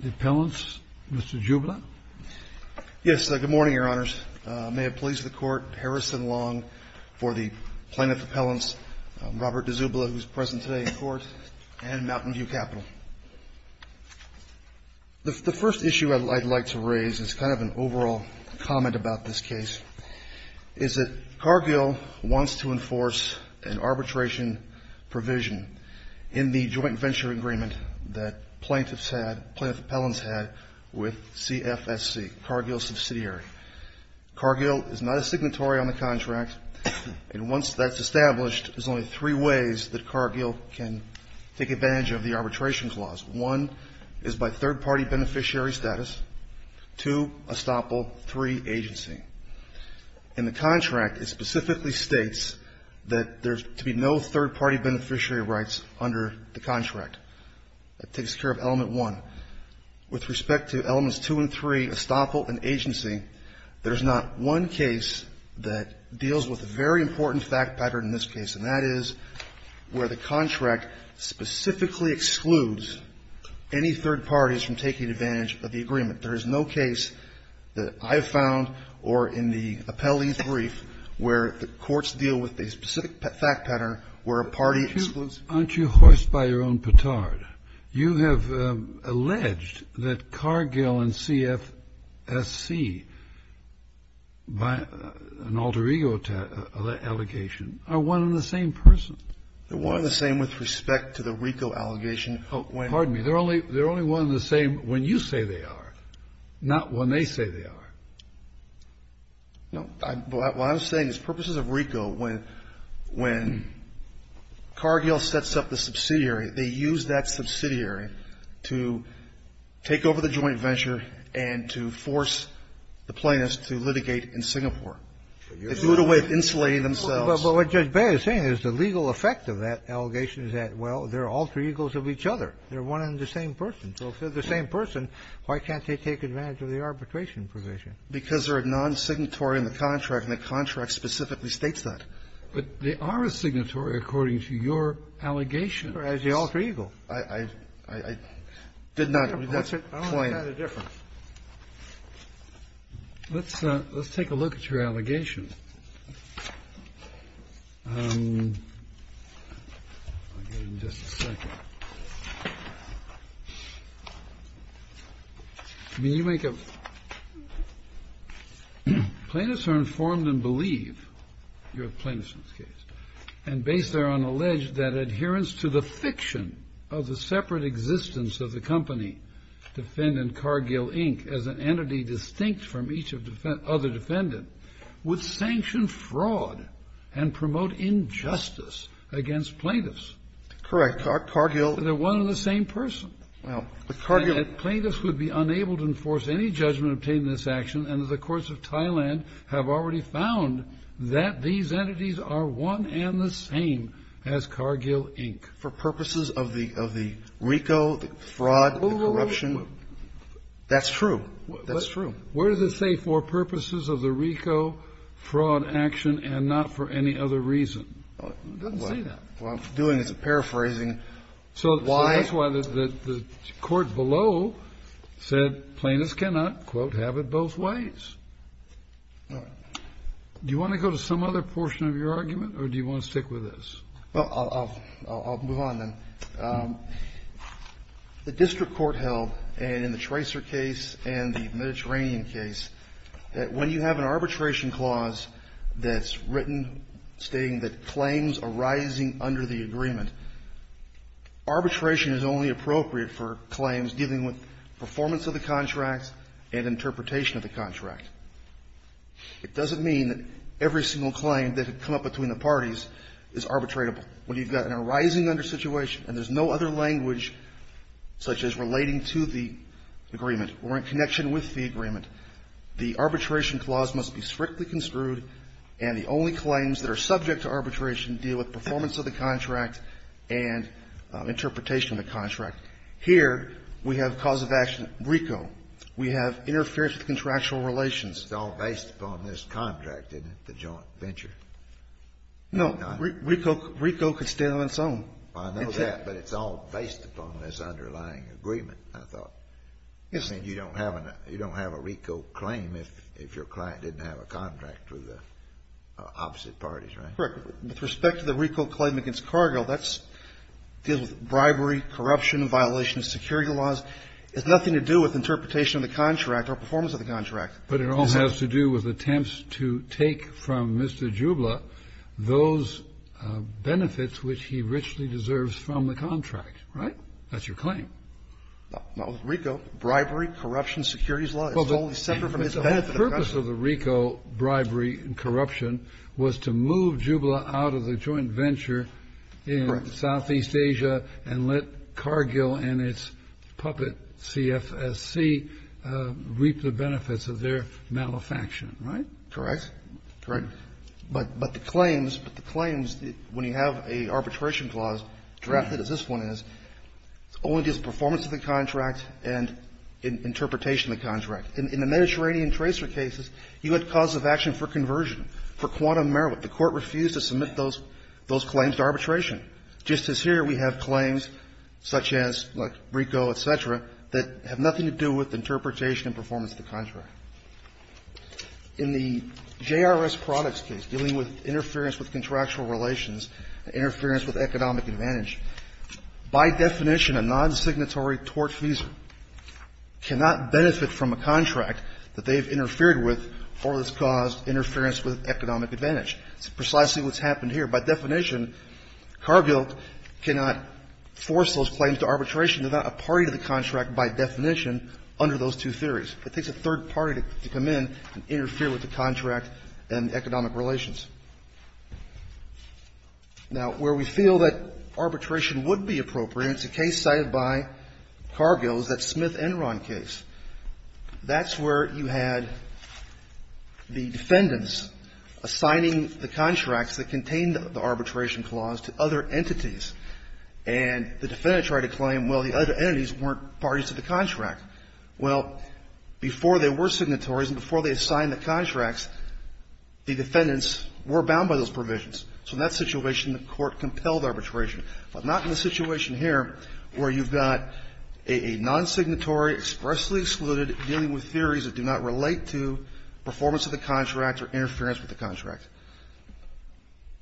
The appellants, Mr. Dziubla. Yes, good morning, Your Honors. May it please the Court, Harrison Long for the plaintiff appellants, Robert Dziubla, who is present today in court, and Mountain View Capital. The first issue I'd like to raise is kind of an overall comment about this case, is that Cargill wants to enforce an arbitration provision in the joint venture agreement that plaintiffs had, plaintiff appellants had with CFSC, Cargill Subsidiary. Cargill is not a signatory on the contract, and once that's established, there's only three ways that Cargill can take advantage of the arbitration clause. One is by third-party beneficiary status. Two, estoppel. Three, agency. In the contract, it specifically states that there's to be no third-party beneficiary rights under the contract. That takes care of element one. Now, with respect to elements two and three, estoppel and agency, there's not one case that deals with a very important fact pattern in this case, and that is where the contract specifically excludes any third parties from taking advantage of the agreement. There is no case that I have found or in the appellee brief where the courts deal with a specific fact pattern where a party excludes. Aren't you hoist by your own petard? You have alleged that Cargill and CFSC, by an alter ego allegation, are one and the same person. They're one and the same with respect to the RICO allegation. Pardon me. They're only one and the same when you say they are, not when they say they are. No. What I'm saying is purposes of RICO, when Cargill sets up the subsidiary, they use that subsidiary to take over the joint venture and to force the plaintiffs to litigate in Singapore. They do it a way of insulating themselves. But what Judge Beyer is saying is the legal effect of that allegation is that, well, they're alter egos of each other. They're one and the same person. So if they're the same person, why can't they take advantage of the arbitration provision? Because they're a non-signatory in the contract, and the contract specifically states that. But they are a signatory according to your allegations. As the alter ego. I did not. That's a point. I don't know the difference. Let's take a look at your allegations. Plaintiffs are informed and believe, you're a plaintiff in this case, and based there on alleged that adherence to the fiction of the separate existence of the company, defendant and promote injustice against plaintiffs. Cargill. They're one and the same person. Cargill. Plaintiffs would be unable to enforce any judgment obtained in this action, and the courts of Thailand have already found that these entities are one and the same as Cargill Inc. For purposes of the RICO, the fraud, the corruption. That's true. That's true. Where does it say for purposes of the RICO, fraud, action, and not for any other reason? It doesn't say that. What I'm doing is paraphrasing why. So that's why the court below said plaintiffs cannot, quote, have it both ways. All right. Do you want to go to some other portion of your argument, or do you want to stick with this? Well, I'll move on, then. The district court held, and in the Tracer case and the Mediterranean case, that when you have an arbitration clause that's written stating that claims arising under the agreement, arbitration is only appropriate for claims dealing with performance of the contract and interpretation of the contract. It doesn't mean that every single claim that had come up between the parties is arbitratable. When you've got an arising under situation and there's no other language such as relating to the agreement or in connection with the agreement, the arbitration clause must be strictly construed, and the only claims that are subject to arbitration deal with performance of the contract and interpretation of the contract. Here, we have cause of action RICO. We have interference with contractual relations. It's all based upon this contract, isn't it, the joint venture? No. RICO can stand on its own. I know that, but it's all based upon this underlying agreement, I thought. Yes. I mean, you don't have a RICO claim if your client didn't have a contract with the opposite parties, right? Correct. With respect to the RICO claim against Cargill, that deals with bribery, corruption, violation of security laws. It has nothing to do with interpretation of the contract or performance of the contract. But it all has to do with attempts to take from Mr. Jubla those benefits which he richly deserves from the contract, right? That's your claim. Not with RICO. Bribery, corruption, securities law. It's only separate from his benefit. The purpose of the RICO bribery and corruption was to move Jubla out of the joint venture in Southeast Asia and let Cargill and its puppet CFSC reap the benefits of their malefaction, right? Correct. Correct. But the claims, but the claims, when you have an arbitration clause drafted as this one is, it only gives performance of the contract and interpretation of the contract. In the Mediterranean tracer cases, you had cause of action for conversion, for quantum merit. The Court refused to submit those claims to arbitration, just as here we have claims such as, like RICO, et cetera, that have nothing to do with interpretation and performance of the contract. In the JRS products case, dealing with interference with contractual relations and interference with economic advantage, by definition, a nonsignatory tortfeasor cannot benefit from a contract that they have interfered with or has caused interference with economic advantage. It's precisely what's happened here. By definition, Cargill cannot force those claims to arbitration. There's not a party to the contract, by definition, under those two theories. It takes a third party to come in and interfere with the contract and economic relations. Now, where we feel that arbitration would be appropriate, it's a case cited by Cargill. It's that Smith-Enron case. That's where you had the defendants assigning the contracts that contained the arbitration clause to other entities. And the defendant tried to claim, well, the other entities weren't parties to the contract. Well, before there were signatories and before they assigned the contracts, the defendants were bound by those provisions. So in that situation, the Court compelled arbitration. But not in the situation here where you've got a nonsignatory expressly excluded dealing with theories that do not relate to performance of the contract or interference with the contract.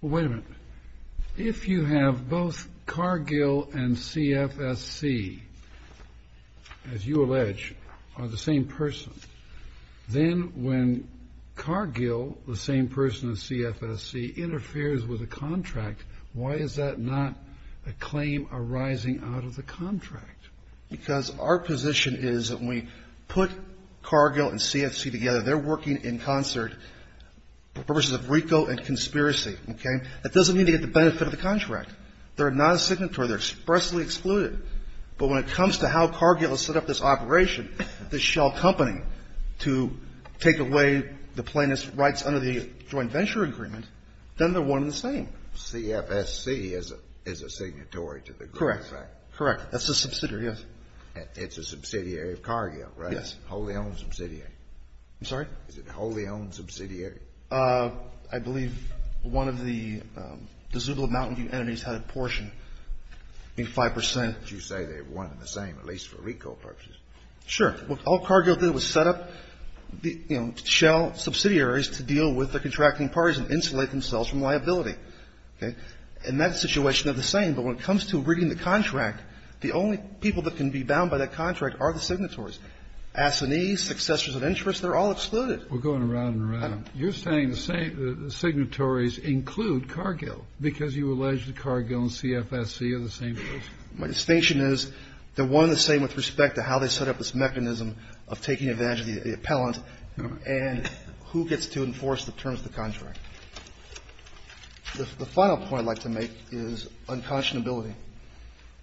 Well, wait a minute. If you have both Cargill and CFSC, as you allege, are the same person, then when Cargill, the same person as CFSC, interferes with a contract, why is that not a claim arising out of the contract? Because our position is that when we put Cargill and CFSC together, they're working in concert for purposes of RICO and conspiracy. Okay? That doesn't mean they get the benefit of the contract. They're not a signatory. They're expressly excluded. But when it comes to how Cargill has set up this operation, this shell company, to take away the plaintiff's rights under the joint venture agreement, then they're one and the same. CFSC is a signatory to the group. Correct. That's a subsidiary, yes. It's a subsidiary of Cargill, right? A wholly owned subsidiary. I'm sorry? Is it a wholly owned subsidiary? I believe one of the Zubla Mountain View entities had a portion, maybe 5 percent. But you say they're one and the same, at least for RICO purposes. Sure. All Cargill did was set up, you know, shell subsidiaries to deal with the contracting parties and insulate themselves from liability. Okay? In that situation, they're the same. But when it comes to reading the contract, the only people that can be bound by that contract are the signatories. Assinees, successors of interest, they're all excluded. We're going around and around. You're saying the signatories include Cargill because you allege that Cargill and CFSC are the same person. My distinction is they're one and the same with respect to how they set up this mechanism of taking advantage of the appellant and who gets to enforce the terms of the contract. The final point I'd like to make is unconscionability,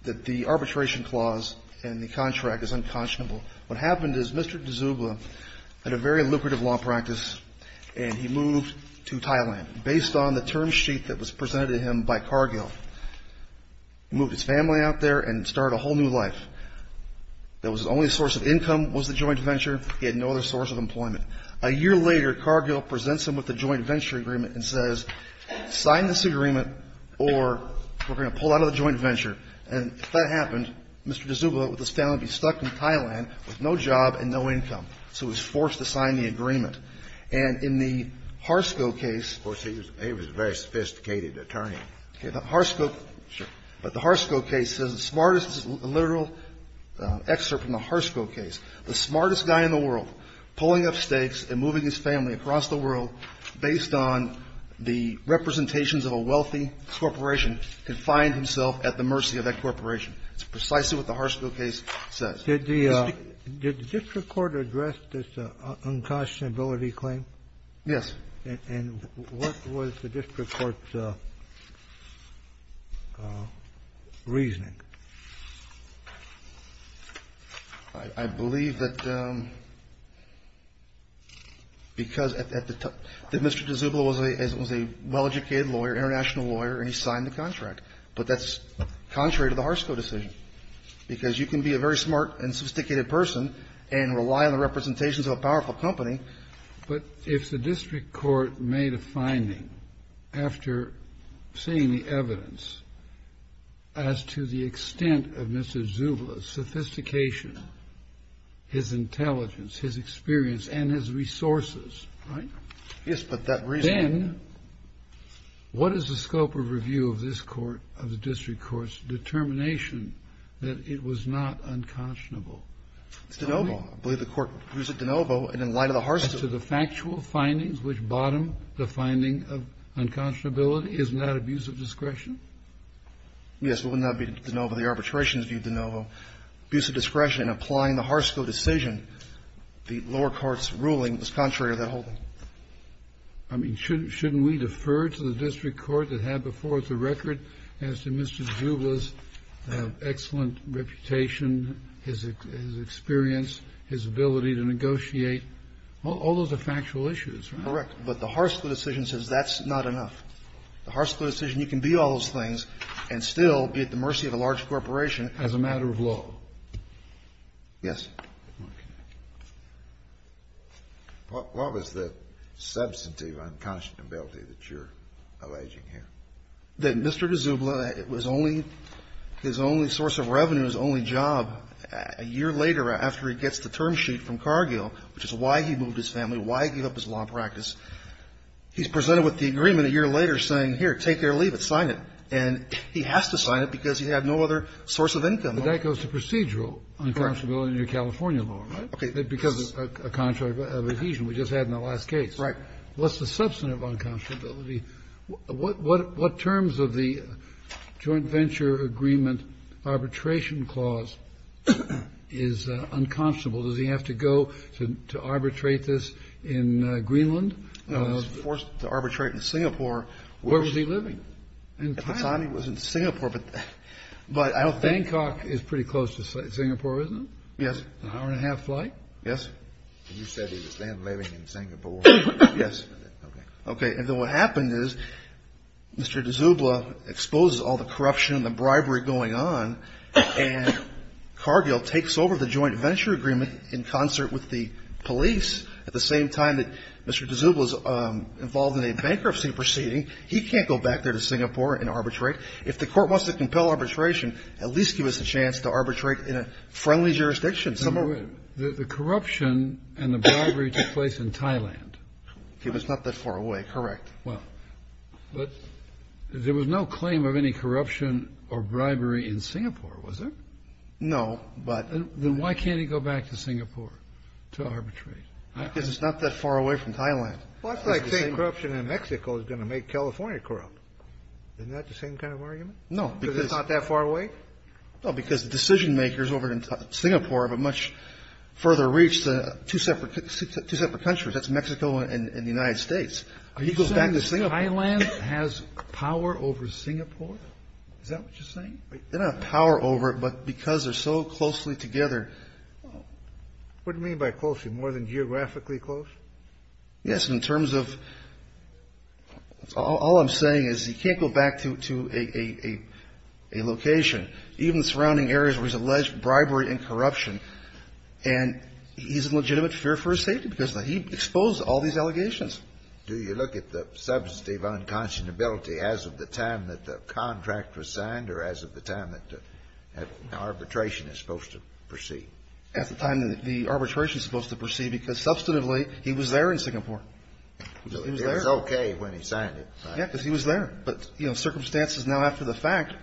that the arbitration clause in the contract is unconscionable. What happened is Mr. D'Souza had a very lucrative law practice, and he moved to Thailand based on the term sheet that was presented to him by Cargill. He moved his family out there and started a whole new life. His only source of income was the joint venture. He had no other source of employment. A year later, Cargill presents him with the joint venture agreement and says, sign this agreement or we're going to pull out of the joint venture. And if that happened, Mr. D'Souza with his family would be stuck in Thailand with no job and no income. So he was forced to sign the agreement. And in the Harsco case he was a very sophisticated attorney. But the Harsco case is the smartest literal excerpt from the Harsco case. The smartest guy in the world pulling up stakes and moving his family across the world based on the representations of a wealthy corporation to find himself at the mercy of that corporation. It's precisely what the Harsco case says. Did the district court address this unconscionability claim? Yes. And what was the district court's reasoning? I believe that Mr. D'Souza was a well-educated lawyer, international lawyer, and he signed the contract. But that's contrary to the Harsco decision. Because you can be a very smart and sophisticated person and rely on the representations of a powerful company. But if the district court made a finding after seeing the evidence as to the extent of Mr. D'Souza's sophistication, his intelligence, his experience and his resources, then what is the scope of review of this court, of the district court's determination that it was not unconscionable? It's de novo. I believe the court views it de novo and in light of the Harsco. As to the factual findings which bottom the finding of unconscionability, isn't that abuse of discretion? Yes, it would not be de novo. The arbitration is viewed de novo. Abuse of discretion in applying the Harsco decision, the lower court's ruling, is contrary to that whole thing. I mean, shouldn't we defer to the district court that had before us a record as to Mr. D'Souza's ability to negotiate? All those are factual issues, right? Correct. But the Harsco decision says that's not enough. The Harsco decision, you can be all those things and still be at the mercy of a large corporation as a matter of law. Yes. What was the substantive unconscionability that you're alleging here? That Mr. D'Souza was only his only source of revenue, his only job, a year later after he gets the term sheet from Cargill, which is why he moved his family, why he gave up his law practice. He's presented with the agreement a year later saying, here, take it or leave it, sign it. And he has to sign it because he had no other source of income. But that goes to procedural unconscionability in your California law, right? Okay. Because of a contract of adhesion we just had in the last case. Right. What's the substantive unconscionability? What terms of the joint venture agreement arbitration clause is unconscionable? Does he have to go to arbitrate this in Greenland? No, he's forced to arbitrate in Singapore. Where was he living? In Thailand. At the time he was in Singapore, but I don't think. Bangkok is pretty close to Singapore, isn't it? Yes. An hour and a half flight? Yes. And you said he was then living in Singapore. Yes. Okay. And then what happened is Mr. D'Souza exposes all the corruption and the bribery going on, and Cargill takes over the joint venture agreement in concert with the police at the same time that Mr. D'Souza is involved in a bankruptcy proceeding. He can't go back there to Singapore and arbitrate. If the court wants to compel arbitration, at least give us a chance to arbitrate in a friendly jurisdiction. The corruption and the bribery took place in Thailand. It was not that far away, correct. Well, but there was no claim of any corruption or bribery in Singapore, was there? No, but. Then why can't he go back to Singapore to arbitrate? Because it's not that far away from Thailand. Well, it's like saying corruption in Mexico is going to make California corrupt. Isn't that the same kind of argument? Because it's not that far away? Well, because the decision-makers over in Singapore have a much further reach than two separate countries. That's Mexico and the United States. Are you saying Thailand has power over Singapore? Is that what you're saying? They don't have power over it, but because they're so closely together. What do you mean by closely? More than geographically close? Yes. In terms of all I'm saying is he can't go back to a location, even surrounding areas where he's alleged bribery and corruption, and he's in legitimate fear for his safety because he exposed all these allegations. Do you look at the substantive unconscionability as of the time that the contract was signed or as of the time that arbitration is supposed to proceed? At the time that the arbitration is supposed to proceed because substantively, he was there in Singapore. He was there. He was okay when he signed it, right? Yes, because he was there. But circumstances now after the fact,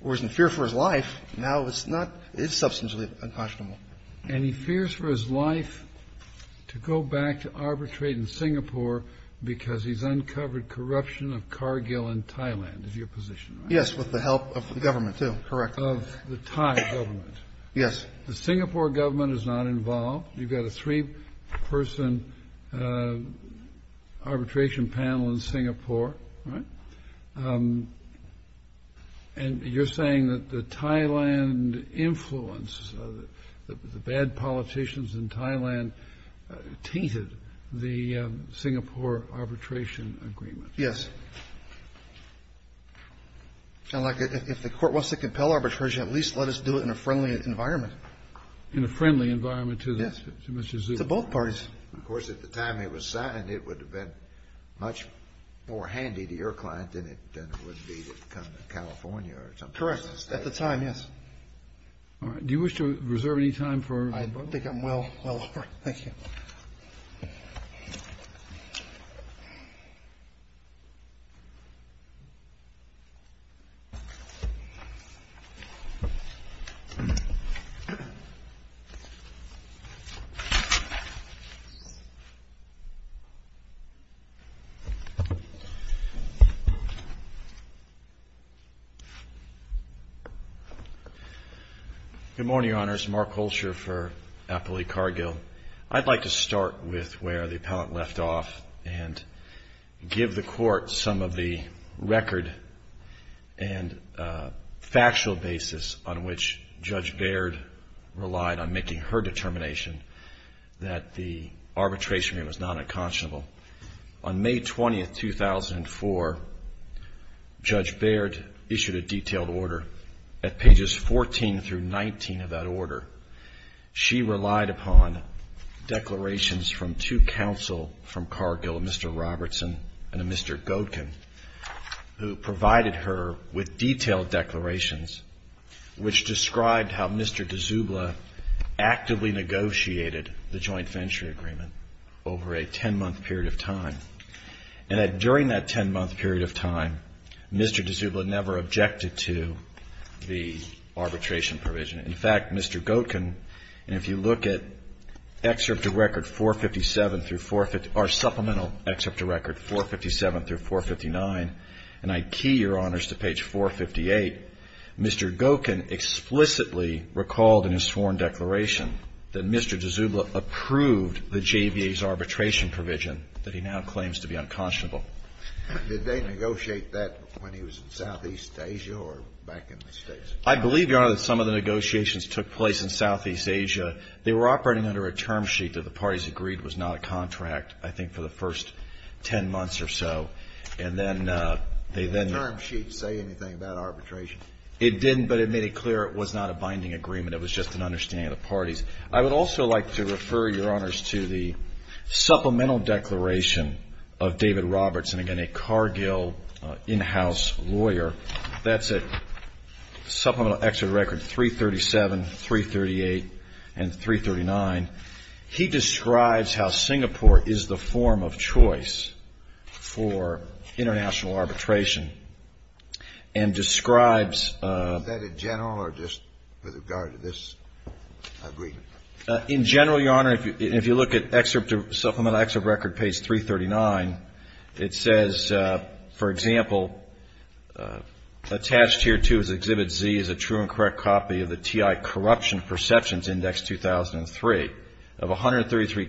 where he's in fear for his life, now it's not, it's substantially unconscionable. And he fears for his life to go back to arbitrate in Singapore because he's uncovered corruption of Cargill in Thailand, is your position, right? Yes, with the help of the government, too. Correct. Of the Thai government. Yes. The Singapore government is not involved. You've got a three-person arbitration panel in Singapore, right? And you're saying that the Thailand influence, the bad politicians in Thailand tainted the Singapore arbitration agreement. Yes. And, like, if the Court wants to compel arbitration, at least let us do it in a friendly environment. In a friendly environment to Mr. Zhu? Yes, to both parties. Of course, at the time it was signed, it would have been much more handy to your client than it would be to come to California or something. Correct. At the time, yes. All right. Do you wish to reserve any time for? I think I'm well over. Thank you. Thank you. My name is Mark Holscher for Appellee Cargill. I'd like to start with where the appellant left off and give the Court some of the record and factual basis on which Judge Baird relied on making her determination that the arbitration agreement was not unconscionable. On May 20th, 2004, Judge Baird issued a detailed order. At pages 14 through 19 of that order, she relied upon declarations from two counsel from Cargill, a Mr. Robertson and a Mr. Godkin, who provided her with detailed declarations which described how Mr. D'Souza actively negotiated the joint venture agreement over a 10-month period of time. And during that 10-month period of time, Mr. D'Souza never objected to the arbitration provision. In fact, Mr. Godkin, and if you look at Excerpt to Record 457 through 450, or Supplemental Excerpt to Record 457 through 459, and I key, Your Honors, to page 458, Mr. Godkin explicitly recalled in his sworn declaration that Mr. D'Souza approved the JVA's arbitration provision that he now claims to be unconscionable. Did they negotiate that when he was in Southeast Asia or back in the States? I believe, Your Honor, that some of the negotiations took place in Southeast Asia. They were operating under a term sheet that the parties agreed was not a contract, I think, for the first 10 months or so. And then they then — Did the term sheet say anything about arbitration? It didn't, but it made it clear it was not a binding agreement. It was just an understanding of the parties. I would also like to refer, Your Honors, to the supplemental declaration of David Robertson, again, a Cargill in-house lawyer. That's at Supplemental Excerpt to Record 337, 338, and 339. He describes how Singapore is the form of choice for international arbitration and describes — Was that in general or just with regard to this agreement? In general, Your Honor, if you look at Excerpt to — Supplemental Excerpt to Record page 339, it says, for example, attached here, too, is Exhibit Z, is a true and correct copy of the TI Corruption Perceptions Index 2003. Of 133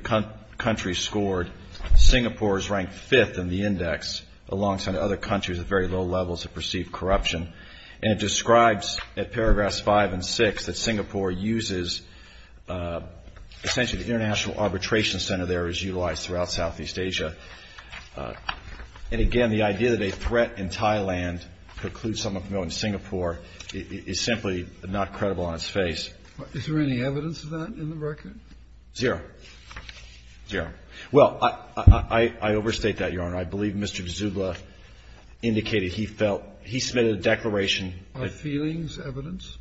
countries scored, Singapore is ranked fifth in the index, alongside other countries at very low levels of perceived corruption. And it describes, at paragraphs 5 and 6, that Singapore uses — essentially, the international arbitration center there is utilized throughout Southeast Asia. And again, the idea that a threat in Thailand precludes someone from going to Singapore is simply not credible on its face. Is there any evidence of that in the record? Zero. Well, I overstate that, Your Honor. I believe Mr. D'Souza indicated he felt — he submitted a declaration. Are feelings evidence?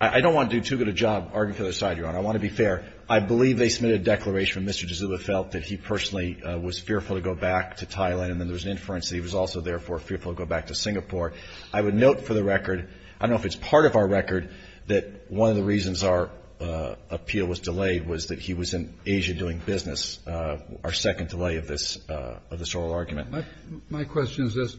I don't want to do too good a job arguing for the other side, Your Honor. I want to be fair. I believe they submitted a declaration when Mr. D'Souza felt that he personally was fearful to go back to Thailand, and then there was an inference that he was also, therefore, fearful to go back to Singapore. I would note for the record — I don't know if it's part of our record — that one of the reasons our appeal was delayed was that he was in Asia doing business, our second delay of this oral argument. My question is this.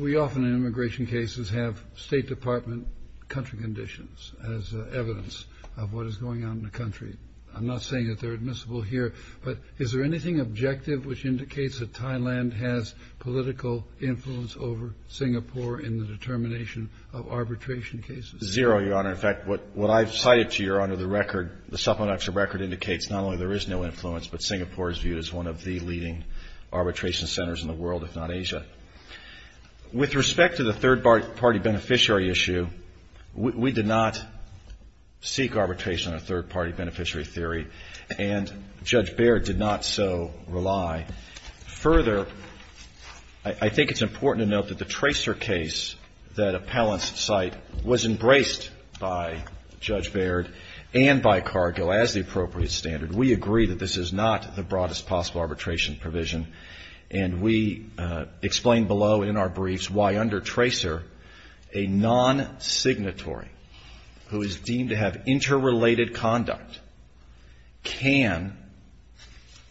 We often, in immigration cases, have State Department country conditions as evidence of what is going on in the country. I'm not saying that they're admissible here, but is there anything objective which indicates that Thailand has political influence over Singapore in the determination of arbitration cases? Zero, Your Honor. In fact, what I've cited to you, Your Honor, the record, the supplemental record, indicates not only there is no influence, but Singapore is viewed as one of the leading arbitration centers in the world, if not Asia. With respect to the third-party beneficiary issue, we did not seek arbitration on a third-party beneficiary theory, and Judge Baird did not so rely. Further, I think it's important to note that the Tracer case, that appellant's site, was embraced by Judge Baird and by Cargill as the appropriate standard. We agree that this is not the broadest possible arbitration provision, and we explain below in our briefs why under Tracer, a non-signatory who is deemed to have interrelated conduct can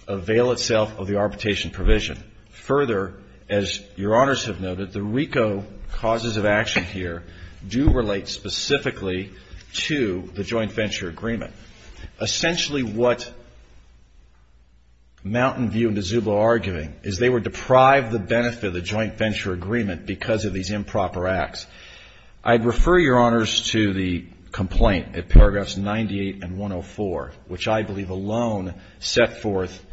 avail itself of the arbitration provision. Further, as Your Honors have noted, the RICO causes of action here do relate specifically to the joint venture agreement. Essentially what Mountain View and DeZubo are arguing is they would deprive the benefit of the joint venture agreement because of these improper acts. I'd refer Your Honors to the complaint at paragraphs 98 and 104, which I believe alone set forth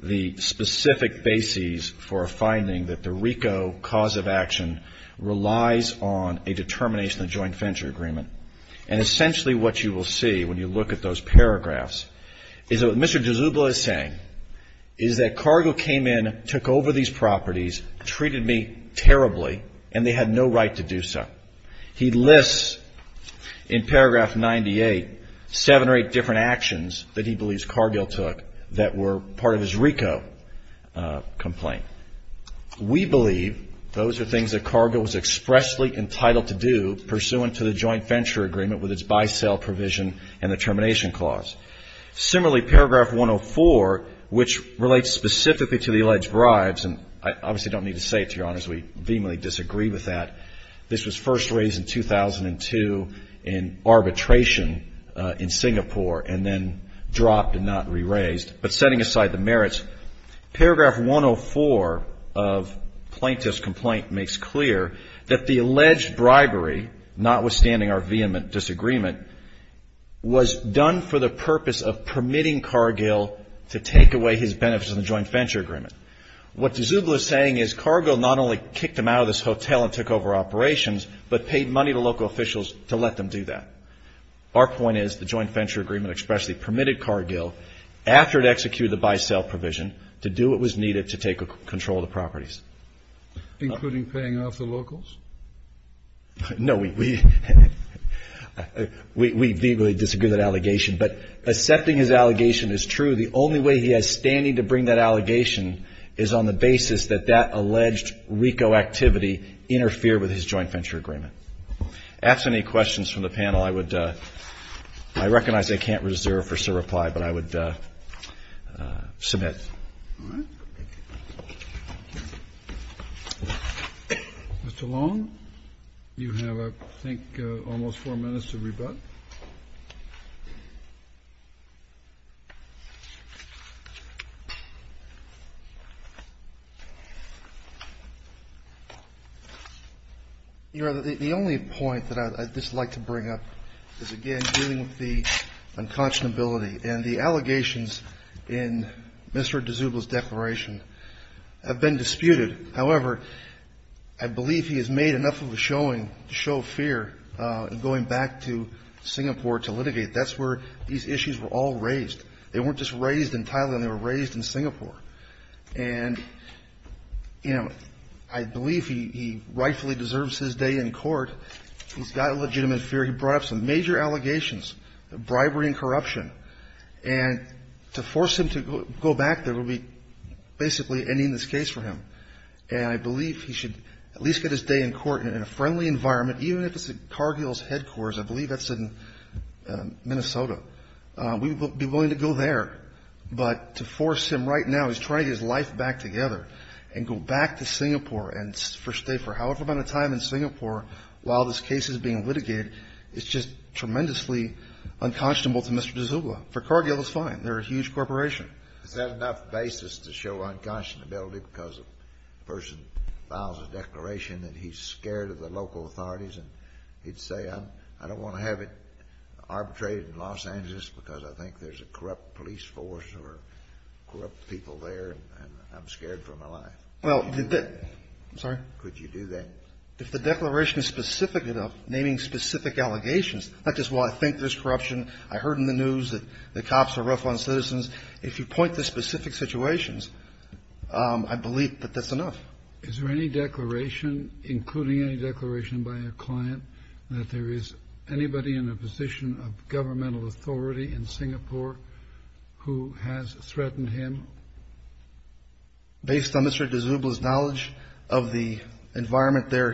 the specific bases for a finding that the RICO cause of action relies on a determination of joint venture agreement. And essentially what you will see when you look at those paragraphs is what Mr. DeZubo is saying is that Cargill came in, took over these properties, treated me terribly, and they had no right to do so. He lists in paragraph 98 seven or eight different actions that he believes Cargill took that were part of his RICO complaint. We believe those are things that Cargill was expressly entitled to do pursuant to the joint venture agreement with its buy-sell provision and the termination clause. Similarly, paragraph 104, which relates specifically to the alleged bribes, and I obviously don't need to say it to Your Honors. We vehemently disagree with that. This was first raised in 2002 in arbitration in Singapore and then dropped and not re-raised. But setting aside the merits, paragraph 104 of Plaintiff's complaint makes clear that the alleged bribery, notwithstanding our vehement disagreement, was done for the purpose of permitting Cargill to take away his benefits in the joint venture agreement. What DeZubo is saying is Cargill not only kicked him out of this hotel and took over operations, but paid money to local officials to let them do that. Our point is the joint venture agreement expressly permitted Cargill, after it executed the buy-sell provision, to do what was needed to take control of the properties. Including paying off the locals? No. We vehemently disagree with that allegation. But accepting his allegation is true. The only way he has standing to bring that allegation is on the basis that that alleged RICO activity interfered with his joint venture agreement. If asked any questions from the panel, I would ‑‑ I recognize I can't reserve for sir reply, but I would submit. Mr. Long, you have, I think, almost four minutes to rebut. The only point that I'd just like to bring up is, again, dealing with the unconscionability and the allegations in Mr. D'souza's declaration have been disputed. However, I believe he has made enough of a showing to show fear in going back to Singapore to litigate. That's where these issues were all raised. They weren't just raised in Thailand. They were raised in Singapore. And, you know, I believe he rightfully deserves his day in court. He's got a legitimate fear. He brought up some major allegations of bribery and corruption. And to force him to go back there would be basically ending this case for him. And I believe he should at least get his day in court in a friendly environment, even if it's at Cargill's headquarters. I believe that's in Minnesota. We would be willing to go there. But to force him right now, he's trying to get his life back together and go back to Singapore and stay for however amount of time in Singapore while this case is being litigated is just tremendously unconscionable to Mr. D'souza. For Cargill, it's fine. They're a huge corporation. Is that enough basis to show unconscionability because a person files a declaration and he's scared of the local authorities and he'd say, I don't want to have it arbitrated in Los Angeles because I think there's a corrupt police force or corrupt people there and I'm scared for my life? Well, did that – I'm sorry? Could you do that? If the declaration is specific enough, naming specific allegations, not just, well, I think there's corruption, I heard in the news that the cops are rough on citizens. If you point to specific situations, I believe that that's enough. Is there any declaration, including any declaration by a client, that there is anybody in a position of governmental authority in Singapore who has threatened him? Based on Mr. D'souza's knowledge of the environment there,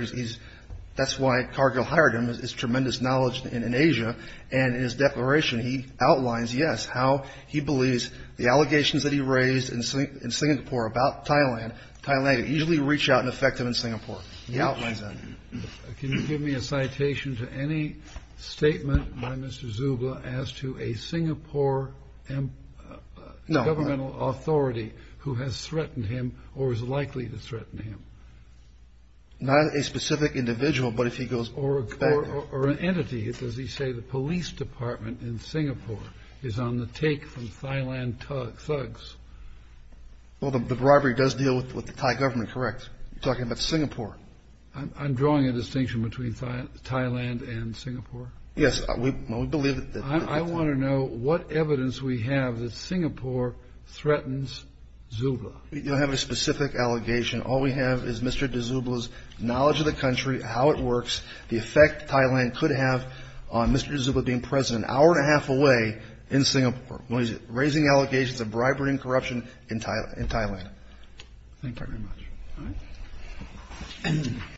that's why Cargill hired him is tremendous knowledge in Asia, and in his declaration he outlines, yes, how he believes the allegations that he raised in Singapore about Thailand, Thailand usually reach out and affect him in Singapore. He outlines that. Can you give me a citation to any statement by Mr. D'souza as to a Singapore governmental authority who has threatened him or is likely to threaten him? Not a specific individual, but if he goes back. Or an entity. Does he say the police department in Singapore is on the take from Thailand thugs? Well, the robbery does deal with the Thai government, correct? You're talking about Singapore. I'm drawing a distinction between Thailand and Singapore? Yes, we believe that. I want to know what evidence we have that Singapore threatens D'souza. We don't have a specific allegation. All we have is Mr. D'souza's knowledge of the country, how it works, the effect Thailand could have on Mr. D'souza being president, an hour and a half away in Singapore, when he's raising allegations of bribery and corruption in Thailand. Thank you very much.